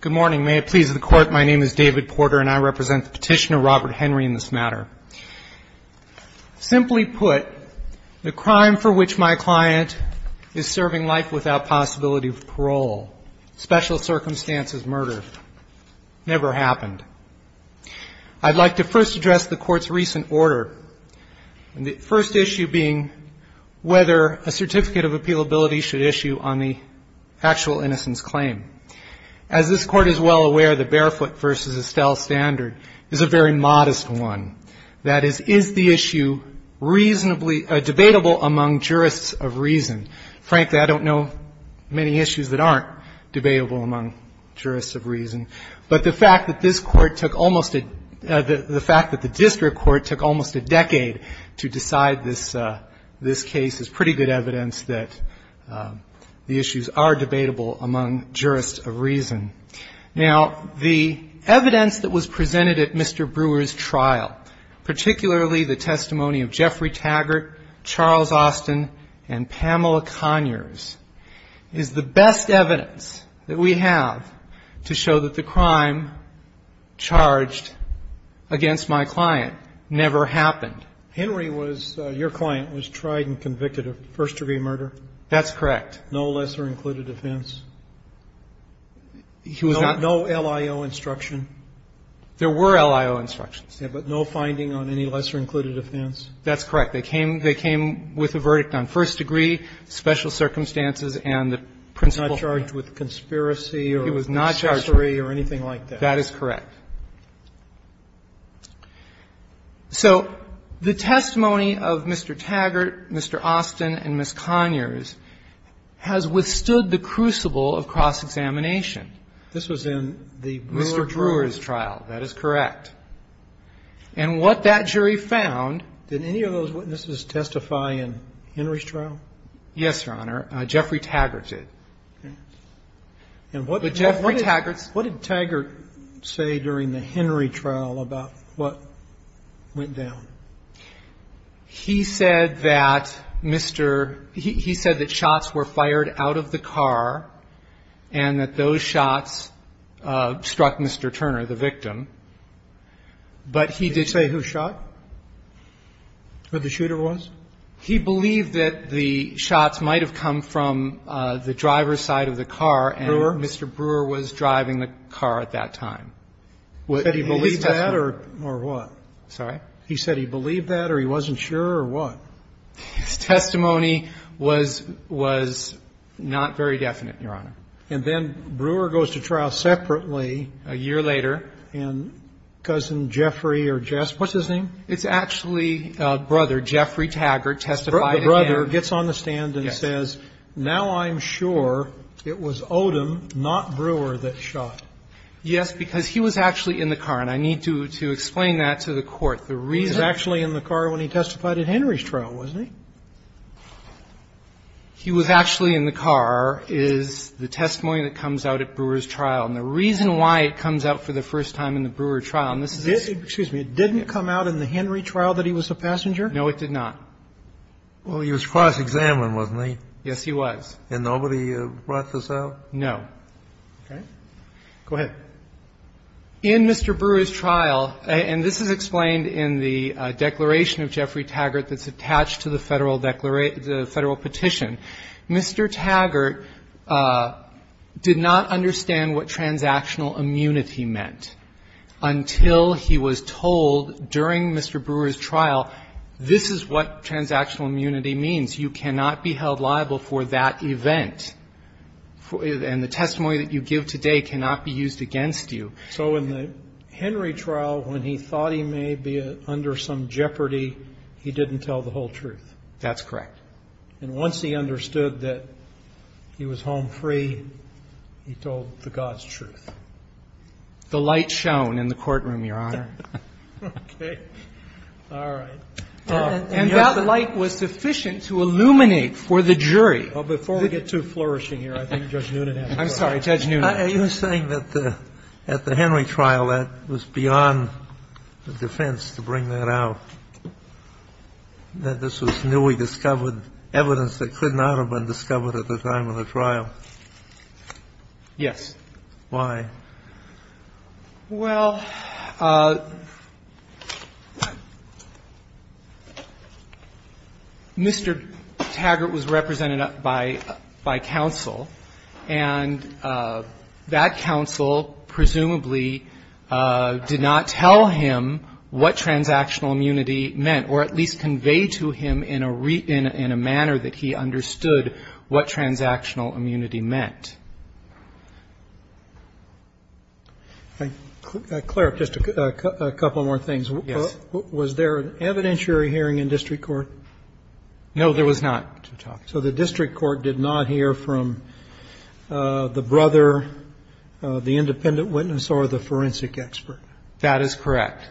Good morning. May it please the Court, my name is David Porter and I represent the petitioner Robert Henry in this matter. Simply put, the crime for which my client is serving life without possibility of parole, special circumstances murder, never happened. I'd like to first address the Court's recent order, the first issue being whether a certificate of appealability should issue on the actual innocence claim. As this Court is well aware, the Barefoot v. Estelle standard is a very modest one. That is, is the issue reasonably debatable among jurists of reason? Frankly, I don't know many issues that aren't debatable among jurists of reason. But the fact that this Court took almost a — the fact that the district court took almost a decade to decide this case is pretty good evidence that the issues are debatable among jurists of reason. Now, the evidence that was presented at Mr. Brewer's trial, particularly the testimony of Jeffrey Taggart, Charles Austin, and Pamela Conyers, is the best evidence that we have to show that the crime charged against my client never happened. Henry was — your client was tried and convicted of first-degree murder? That's correct. No lesser-included offense? He was not — No LIO instruction? There were LIO instructions. Yes, but no finding on any lesser-included offense? That's correct. They came — they came with a verdict on first-degree, special circumstances, and the principle — He was not charged with conspiracy or accessory or anything like that? He was not charged. That is correct. So the testimony of Mr. Taggart, Mr. Austin, and Ms. Conyers has withstood the crucible of cross-examination. This was in the Brewer trial? Mr. Brewer's trial. That is correct. And what that jury found — Did any of those witnesses testify in Henry's trial? Yes, Your Honor. Jeffrey Taggart did. And what — But Jeffrey Taggart — What did Taggart say during the Henry trial about what went down? He said that Mr. — he said that shots were fired out of the car and that those shots struck Mr. Turner, the victim. But he did say who shot? Who the shooter was? He believed that the shots might have come from the driver's side of the car and Mr. Brewer was driving the car at that time. Said he believed that or what? Sorry? He said he believed that or he wasn't sure or what? His testimony was not very definite, Your Honor. And then Brewer goes to trial separately — A year later. And Cousin Jeffrey or Jess — what's his name? It's actually a brother, Jeffrey Taggart, testified in — The brother gets on the stand and says, now I'm sure it was Odom, not Brewer, that shot. Yes, because he was actually in the car. And I need to explain that to the Court. The reason — He was actually in the car when he testified in Henry's trial, wasn't he? He was actually in the car is the testimony that comes out at Brewer's trial. And the reason why it comes out for the first time in the Brewer trial, and this is — Did — excuse me. It didn't come out in the Henry trial that he was a passenger? No, it did not. Well, he was cross-examined, wasn't he? Yes, he was. And nobody brought this out? No. Okay. Go ahead. In Mr. Brewer's trial — and this is explained in the declaration of Jeffrey Taggart that's attached to the Federal Petition — Mr. Taggart did not understand what transactional immunity meant until he was told during Mr. Brewer's trial, this is what transactional immunity means, you cannot be held liable for that event, and the testimony that you give today cannot be used against you. So in the Henry trial, when he thought he may be under some jeopardy, he didn't tell the whole truth? That's correct. And once he understood that he was home free, he told the God's truth? The light shone in the courtroom, Your Honor. Okay. All right. And that light was sufficient to illuminate for the jury. Before we get too flourishing here, I think Judge Noonan has a question. I'm sorry. Judge Noonan. Are you saying that at the Henry trial, that was beyond the defense to bring that out, that this was newly discovered evidence that could not have been discovered at the time of the trial? Yes. Why? Well, Mr. Taggart was represented by counsel, and the defense was that he was not That counsel presumably did not tell him what transactional immunity meant, or at least conveyed to him in a manner that he understood what transactional immunity meant. Clerk, just a couple more things. Yes. Was there an evidentiary hearing in district court? No, there was not. So the district court did not hear from the brother, the independent witness, or the forensic expert? That is correct.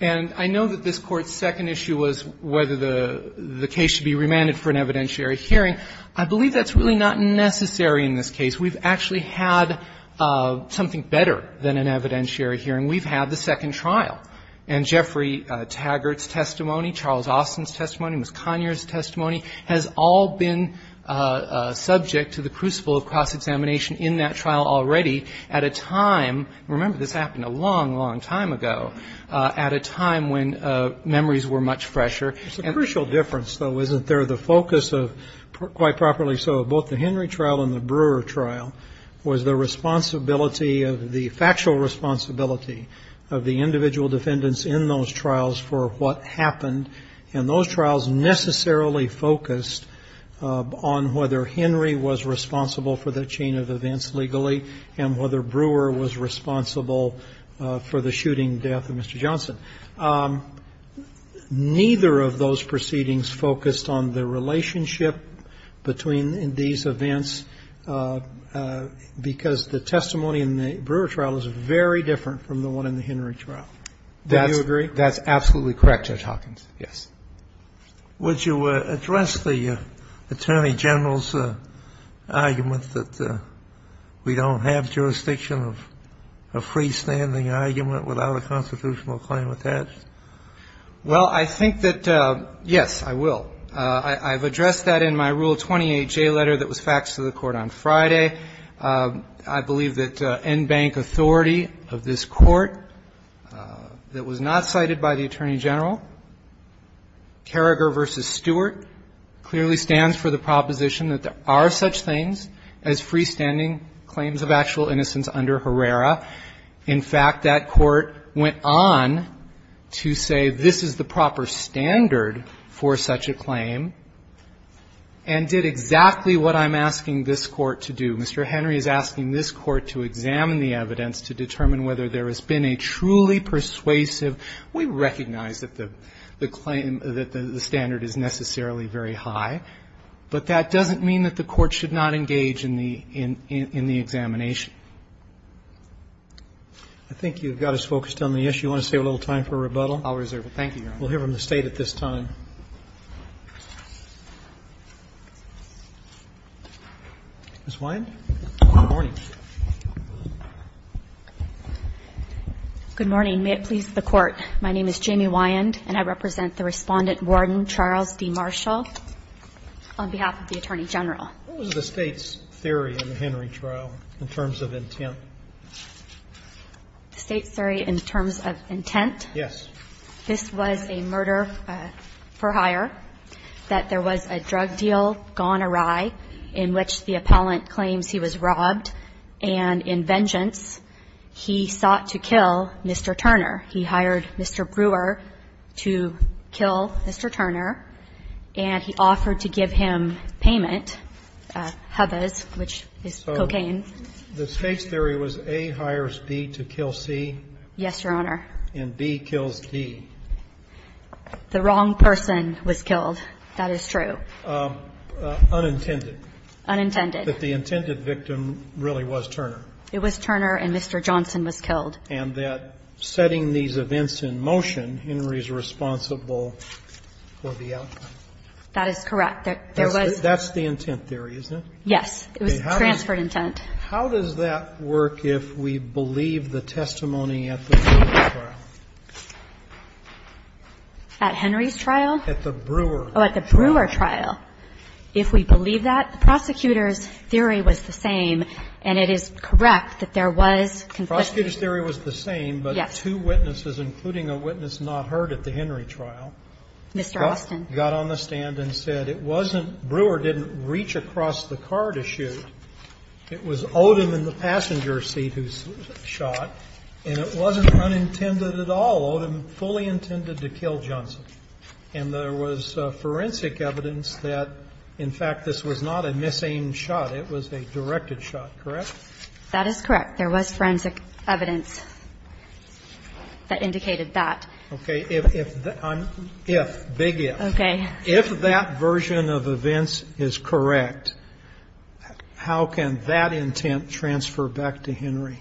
And I know that this Court's second issue was whether the case should be remanded for an evidentiary hearing. I believe that's really not necessary in this case. We've actually had something better than an evidentiary hearing. We've had the second trial. And I believe that the defendant's testimony has all been subject to the crucible of cross-examination in that trial already at a time – remember, this happened a long, long time ago – at a time when memories were much fresher. It's a crucial difference, though, isn't there, the focus of – quite properly so – of both the Henry trial and the Brewer trial was the responsibility of – the factual responsibility of the individual defendants in those trials for what happened. And those trials necessarily focused on whether Henry was responsible for that chain of events legally and whether Brewer was responsible for the shooting death of Mr. Johnson. Neither of those proceedings focused on the relationship between these events, because the testimony in the Brewer trial is very different from the one in the Henry trial. Do you agree? That's absolutely correct, Judge Hawkins, yes. Would you address the Attorney General's argument that we don't have jurisdiction of a freestanding argument without a constitutional claim attached? Well, I think that – yes, I will. I've addressed that in my Rule 28J letter that was faxed to the Court on Friday. I believe that NBANC authority of this Court that was not cited by the Attorney General, Carragher v. Stewart, clearly stands for the proposition that there are such things as freestanding claims of actual innocence under Herrera. In fact, that Court went on to say this is the proper standard for such a claim and did exactly what I'm asking this Court to do. Mr. Henry is asking this Court to examine the evidence to determine whether there has been a truly persuasive – we recognize that the claim, that the standard is necessarily very high, but that doesn't mean that the Court should not engage in the examination. I think you've got us focused on the issue. You want to save a little time for rebuttal? I'll reserve it. Thank you, Your Honor. We'll hear from the State at this time. Ms. Wyand? Good morning. Good morning. May it please the Court, my name is Jamie Wyand and I represent the Respondent Warden Charles D. Marshall on behalf of the Attorney General. What was the State's theory in the Henry trial in terms of intent? The State's theory in terms of intent? Yes. This was a murder for hire, that there was a drug deal gone awry in which the appellant claims he was robbed, and in vengeance, he sought to kill Mr. Turner. He hired Mr. Brewer to kill Mr. Turner, and he offered to give him payment, hubbaz, which is cocaine. So the State's theory was A hires B to kill C? Yes, Your Honor. And B kills D? The wrong person was killed, that is true. Unintended? Unintended. But the intended victim really was Turner? It was Turner, and Mr. Johnson was killed. And that setting these events in motion, Henry is responsible for the outcome? That is correct. There was the intent theory, isn't it? Yes. It was transferred intent. How does that work if we believe the testimony at the Brewer trial? At Henry's trial? At the Brewer trial. Oh, at the Brewer trial. If we believe that, the prosecutor's theory was the same, and it is correct that there was conflict. The prosecutor's theory was the same, but two witnesses, including a witness not heard at the Henry trial, got on the stand and said it wasn't – Brewer didn't reach across the car to shoot. It was Odom in the passenger seat who shot, and it wasn't unintended at all. Odom fully intended to kill Johnson. And there was forensic evidence that, in fact, this was not a misaimed shot. It was a directed shot, correct? That is correct. There was forensic evidence that indicated that. Okay. If that – if, big if. Okay. If that version of events is correct, how can that intent transfer back to Henry?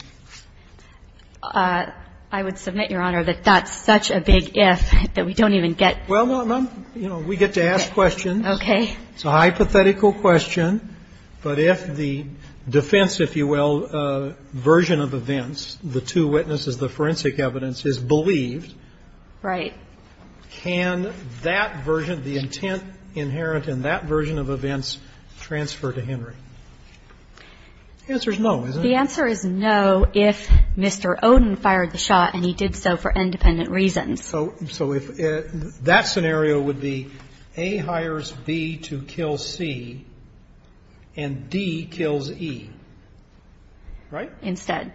I would submit, Your Honor, that that's such a big if that we don't even get – Well, we get to ask questions. Okay. It's a hypothetical question. But if the defense, if you will, version of events, the two witnesses, the forensic evidence is believed, can that version, the intent inherent in that version of events, transfer to Henry? The answer is no, isn't it? The answer is no if Mr. Odom fired the shot and he did so for independent reasons. So if that scenario would be A hires B to kill C and D kills E, right? Instead.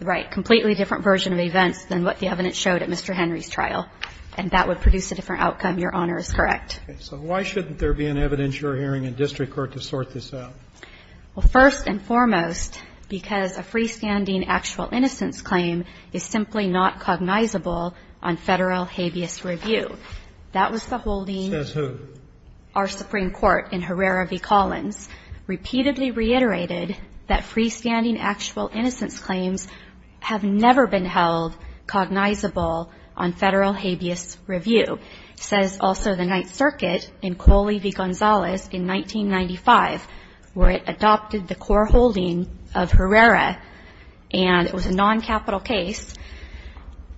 Right. So that's a completely different version of events than what the evidence showed at Mr. Henry's trial, and that would produce a different outcome. Your Honor is correct. Okay. So why shouldn't there be an evidence you're hearing in district court to sort this out? Well, first and foremost, because a freestanding actual innocence claim is simply not cognizable on Federal habeas review. That was the holding – Says who? Our Supreme Court in Herrera v. Collins repeatedly reiterated that freestanding actual innocence claims have never been held cognizable on Federal habeas review. It says also the Ninth Circuit in Coley v. Gonzalez in 1995, where it adopted the core holding of Herrera, and it was a noncapital case.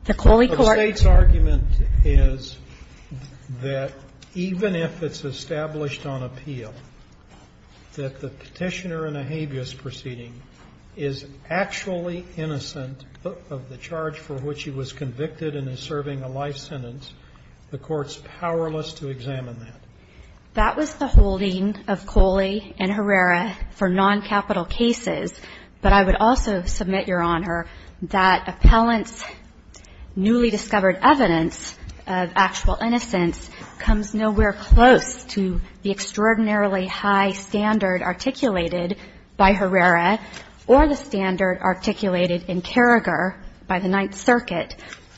The Coley court – The State's argument is that even if it's established on appeal, that the petitioner in a habeas proceeding is actually innocent of the charge for which he was convicted and is serving a life sentence. The Court's powerless to examine that. That was the holding of Coley and Herrera for noncapital cases, but I would also submit, Your Honor, that appellant's newly discovered evidence of actual innocence comes nowhere close to the extraordinarily high standard articulated by Herrera or the standard articulated in Carragher by the Ninth Circuit,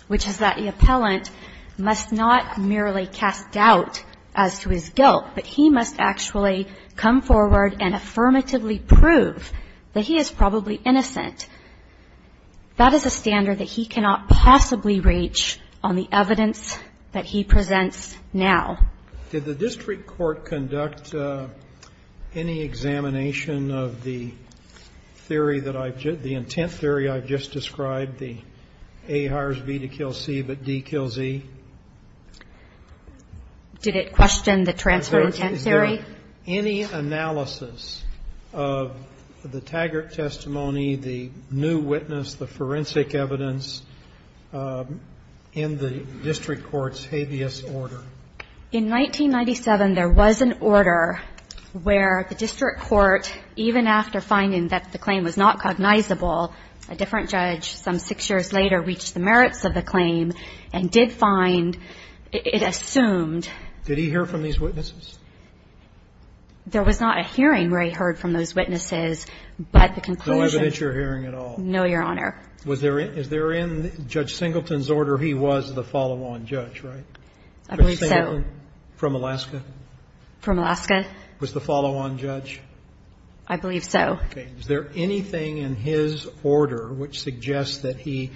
which is that the appellant must not merely cast doubt as to his guilt, but he must actually come forward and affirmatively prove that he is probably innocent. That is a standard that he cannot possibly reach on the evidence that he presents now. Did the district court conduct any examination of the theory that I've just – the intent theory I've just described, the A hires B to kill C, but D kills E? Did it question the transfer of intent theory? Is there any analysis of the Taggart testimony, the new witness, the forensic evidence, in the district court's habeas order? In 1997, there was an order where the district court, even after finding that the claim was not cognizable, a different judge some six years later reached the merits of the claim and did find – it assumed – Did he hear from these witnesses? There was not a hearing where he heard from those witnesses, but the conclusion No evidence you're hearing at all? No, Your Honor. Was there – is there in Judge Singleton's order he was the follow-on judge, right? I believe so. Judge Singleton from Alaska? From Alaska. Was the follow-on judge? I believe so. Okay. Is there anything in his order which suggests that he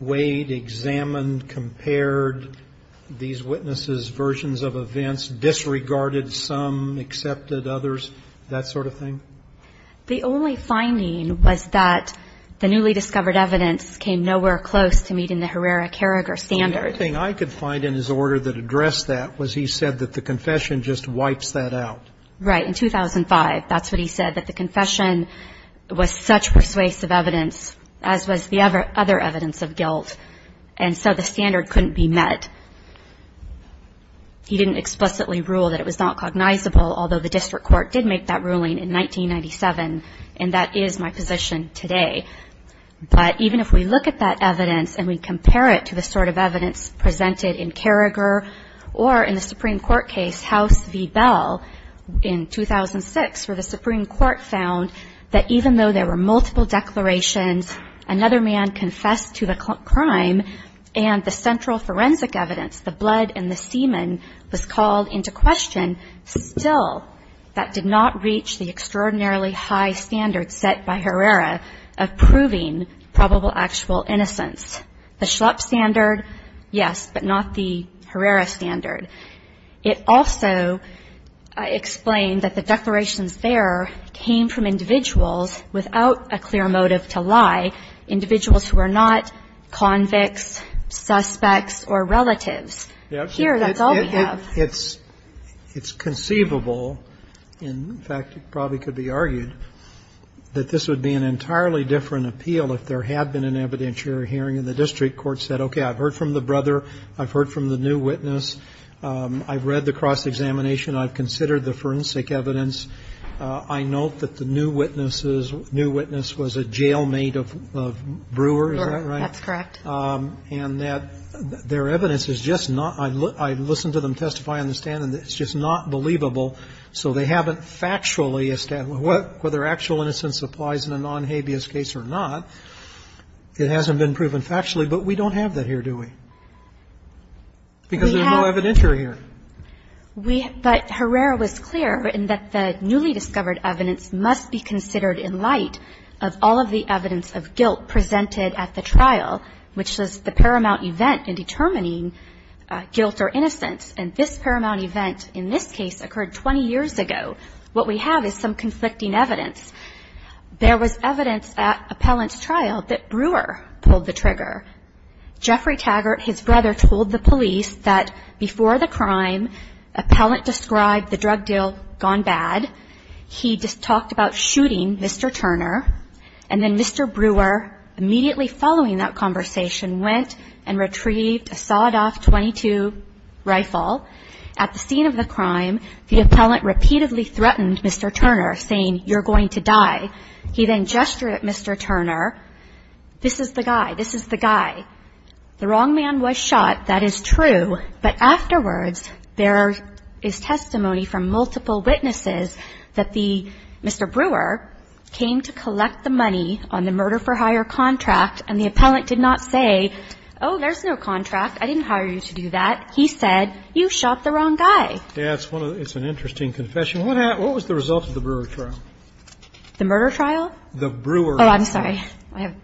weighed, examined, compared these witnesses' versions of events, disregarded some, accepted others, that sort of thing? The only finding was that the newly discovered evidence came nowhere close to meeting the Herrera-Karrager standard. The only thing I could find in his order that addressed that was he said that the confession just wipes that out. Right. In 2005, that's what he said, that the confession was such persuasive evidence, as was the other evidence of guilt, and so the standard couldn't be met. He didn't explicitly rule that it was not cognizable, although the district court did make that ruling in 1997, and that is my position today. But even if we look at that evidence and we compare it to the sort of evidence presented in Karrager or in the Supreme Court case, House v. Bell in 2006, where the Supreme Court found that even though there were multiple declarations, another man confessed to the crime, and the central forensic evidence, the blood and the semen, was called into question, still that did not reach the extraordinarily high standard set by Herrera of proving probable actual innocence. The Schlupp standard, yes, but not the Herrera standard. It also explained that the declarations there came from individuals without a clear motive to lie, individuals who are not convicts, suspects, or relatives. Here, that's all we have. It's conceivable, and in fact, it probably could be argued, that this would be an entirely different appeal if there had been an evidentiary hearing and the district court said, okay, I've heard from the brother, I've heard from the new witness, I've read the cross-examination, I've considered the forensic evidence, I note that the new witness was a jail-mate of Brewer, is that right? That's correct. And that their evidence is just not – I've listened to them testify on the stand and it's just not believable, so they haven't factually established whether actual innocence applies in a non-habeas case or not. It hasn't been proven factually, but we don't have that here, do we? Because there's no evidentiary here. We – but Herrera was clear in that the newly discovered evidence must be considered in light of all of the evidence of guilt presented at the trial, which is the paramount event in determining guilt or innocence. And this paramount event in this case occurred 20 years ago. What we have is some conflicting evidence. There was evidence at appellant's trial that Brewer pulled the trigger. Jeffrey Taggart, his brother, told the police that before the crime, appellant described the drug deal gone bad. He just talked about shooting Mr. Turner. And then Mr. Brewer, immediately following that conversation, went and retrieved a sawed-off .22 rifle. At the scene of the crime, the appellant repeatedly threatened Mr. Turner, saying, you're going to die. He then gestured at Mr. Turner, this is the guy. The wrong man was shot, that is true. But afterwards, there is testimony from multiple witnesses that the – Mr. Brewer came to collect the money on the murder-for-hire contract, and the appellant did not say, oh, there's no contract, I didn't hire you to do that. He said, you shot the wrong guy. Yeah, it's one of the – it's an interesting confession. What was the result of the Brewer trial? The murder trial? The Brewer trial. Oh, I'm sorry. I have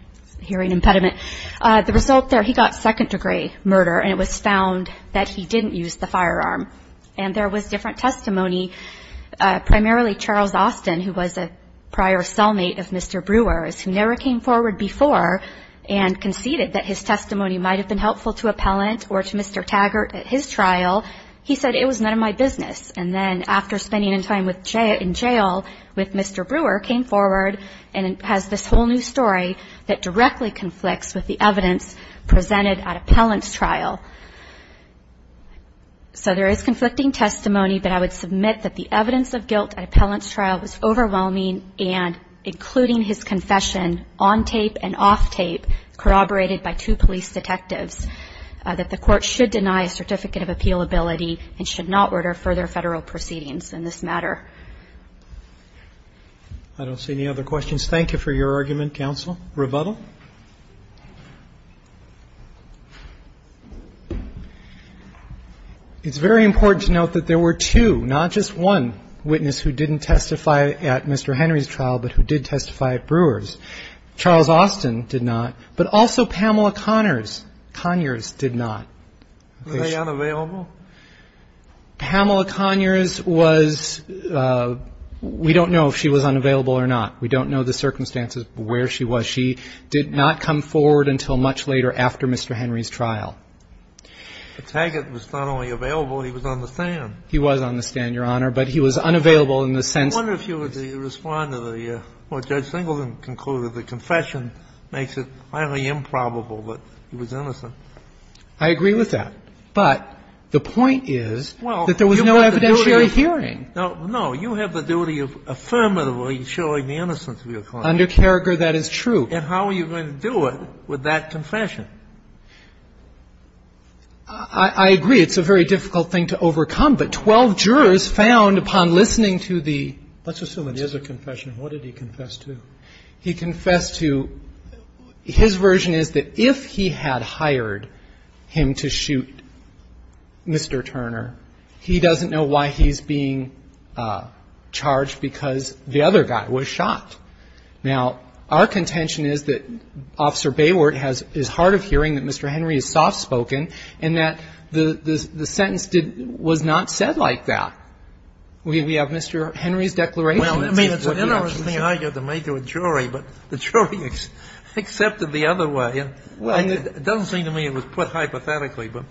a hearing impediment. The result there, he got second-degree murder, and it was found that he didn't use the firearm. And there was different testimony, primarily Charles Austin, who was a prior cellmate of Mr. Brewer's, who never came forward before and conceded that his testimony might have been helpful to appellant or to Mr. Taggart at his trial. He said, it was none of my business. And then, after spending time in jail with Mr. Brewer, came forward and has this whole new story that directly conflicts with the evidence presented at appellant's trial. So there is conflicting testimony, but I would submit that the evidence of guilt at appellant's trial was overwhelming and, including his confession on tape and off tape, corroborated by two police detectives, that the Court should deny a certificate of appealability and should not order further Federal proceedings in this matter. I don't see any other questions. Thank you for your argument, counsel. Rebuttal? It's very important to note that there were two, not just one, witness who didn't testify at Mr. Henry's trial, but who did testify at Brewer's. Charles Austin did not, but also Pamela Conyers did not. Was she unavailable? Pamela Conyers was we don't know if she was unavailable or not. We don't know the circumstances where she was. She did not come forward until much later after Mr. Henry's trial. But Taggart was not only available, he was on the stand. He was on the stand, Your Honor, but he was unavailable in the sense that he was I wonder if you would respond to the, what Judge Singleton concluded, the confession makes it highly improbable that he was innocent. I agree with that. But the point is that there was no evidentiary hearing. Now, no, you have the duty of affirmatively showing the innocence of your client. Under Carragher, that is true. And how are you going to do it with that confession? I agree it's a very difficult thing to overcome, but 12 jurors found upon listening to the Let's assume it is a confession. What did he confess to? He confessed to, his version is that if he had hired him to shoot Mr. Turner, he doesn't know why he's being charged, because the other guy was shot. Now, our contention is that Officer Bayward is hard of hearing, that Mr. Henry is soft spoken, and that the sentence did, was not said like that. We have Mr. Henry's declaration. Well, I mean, it's an interesting argument to make to a jury, but the jury accepted the other way. It doesn't seem to me it was put hypothetically, but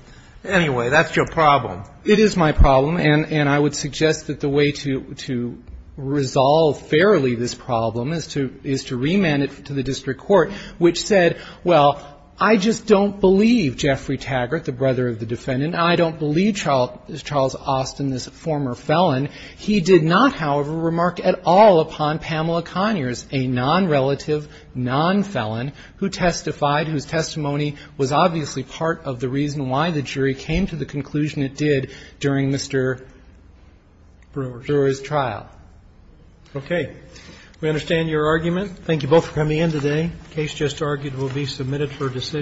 anyway, that's your problem. It is my problem. And I would suggest that the way to resolve fairly this problem is to remand it to the district court, which said, well, I just don't believe Jeffrey Taggart, the brother of the defendant, and I don't believe Charles Austin, this former felon. He did not, however, remark at all upon Pamela Conyers, a nonrelative, nonfelon, who testified, whose testimony was obviously part of the reason why the jury came to the conclusion it did during Mr. Brewer's trial. Okay. We understand your argument. Thank you both for coming in today. The case just argued will be submitted for decision.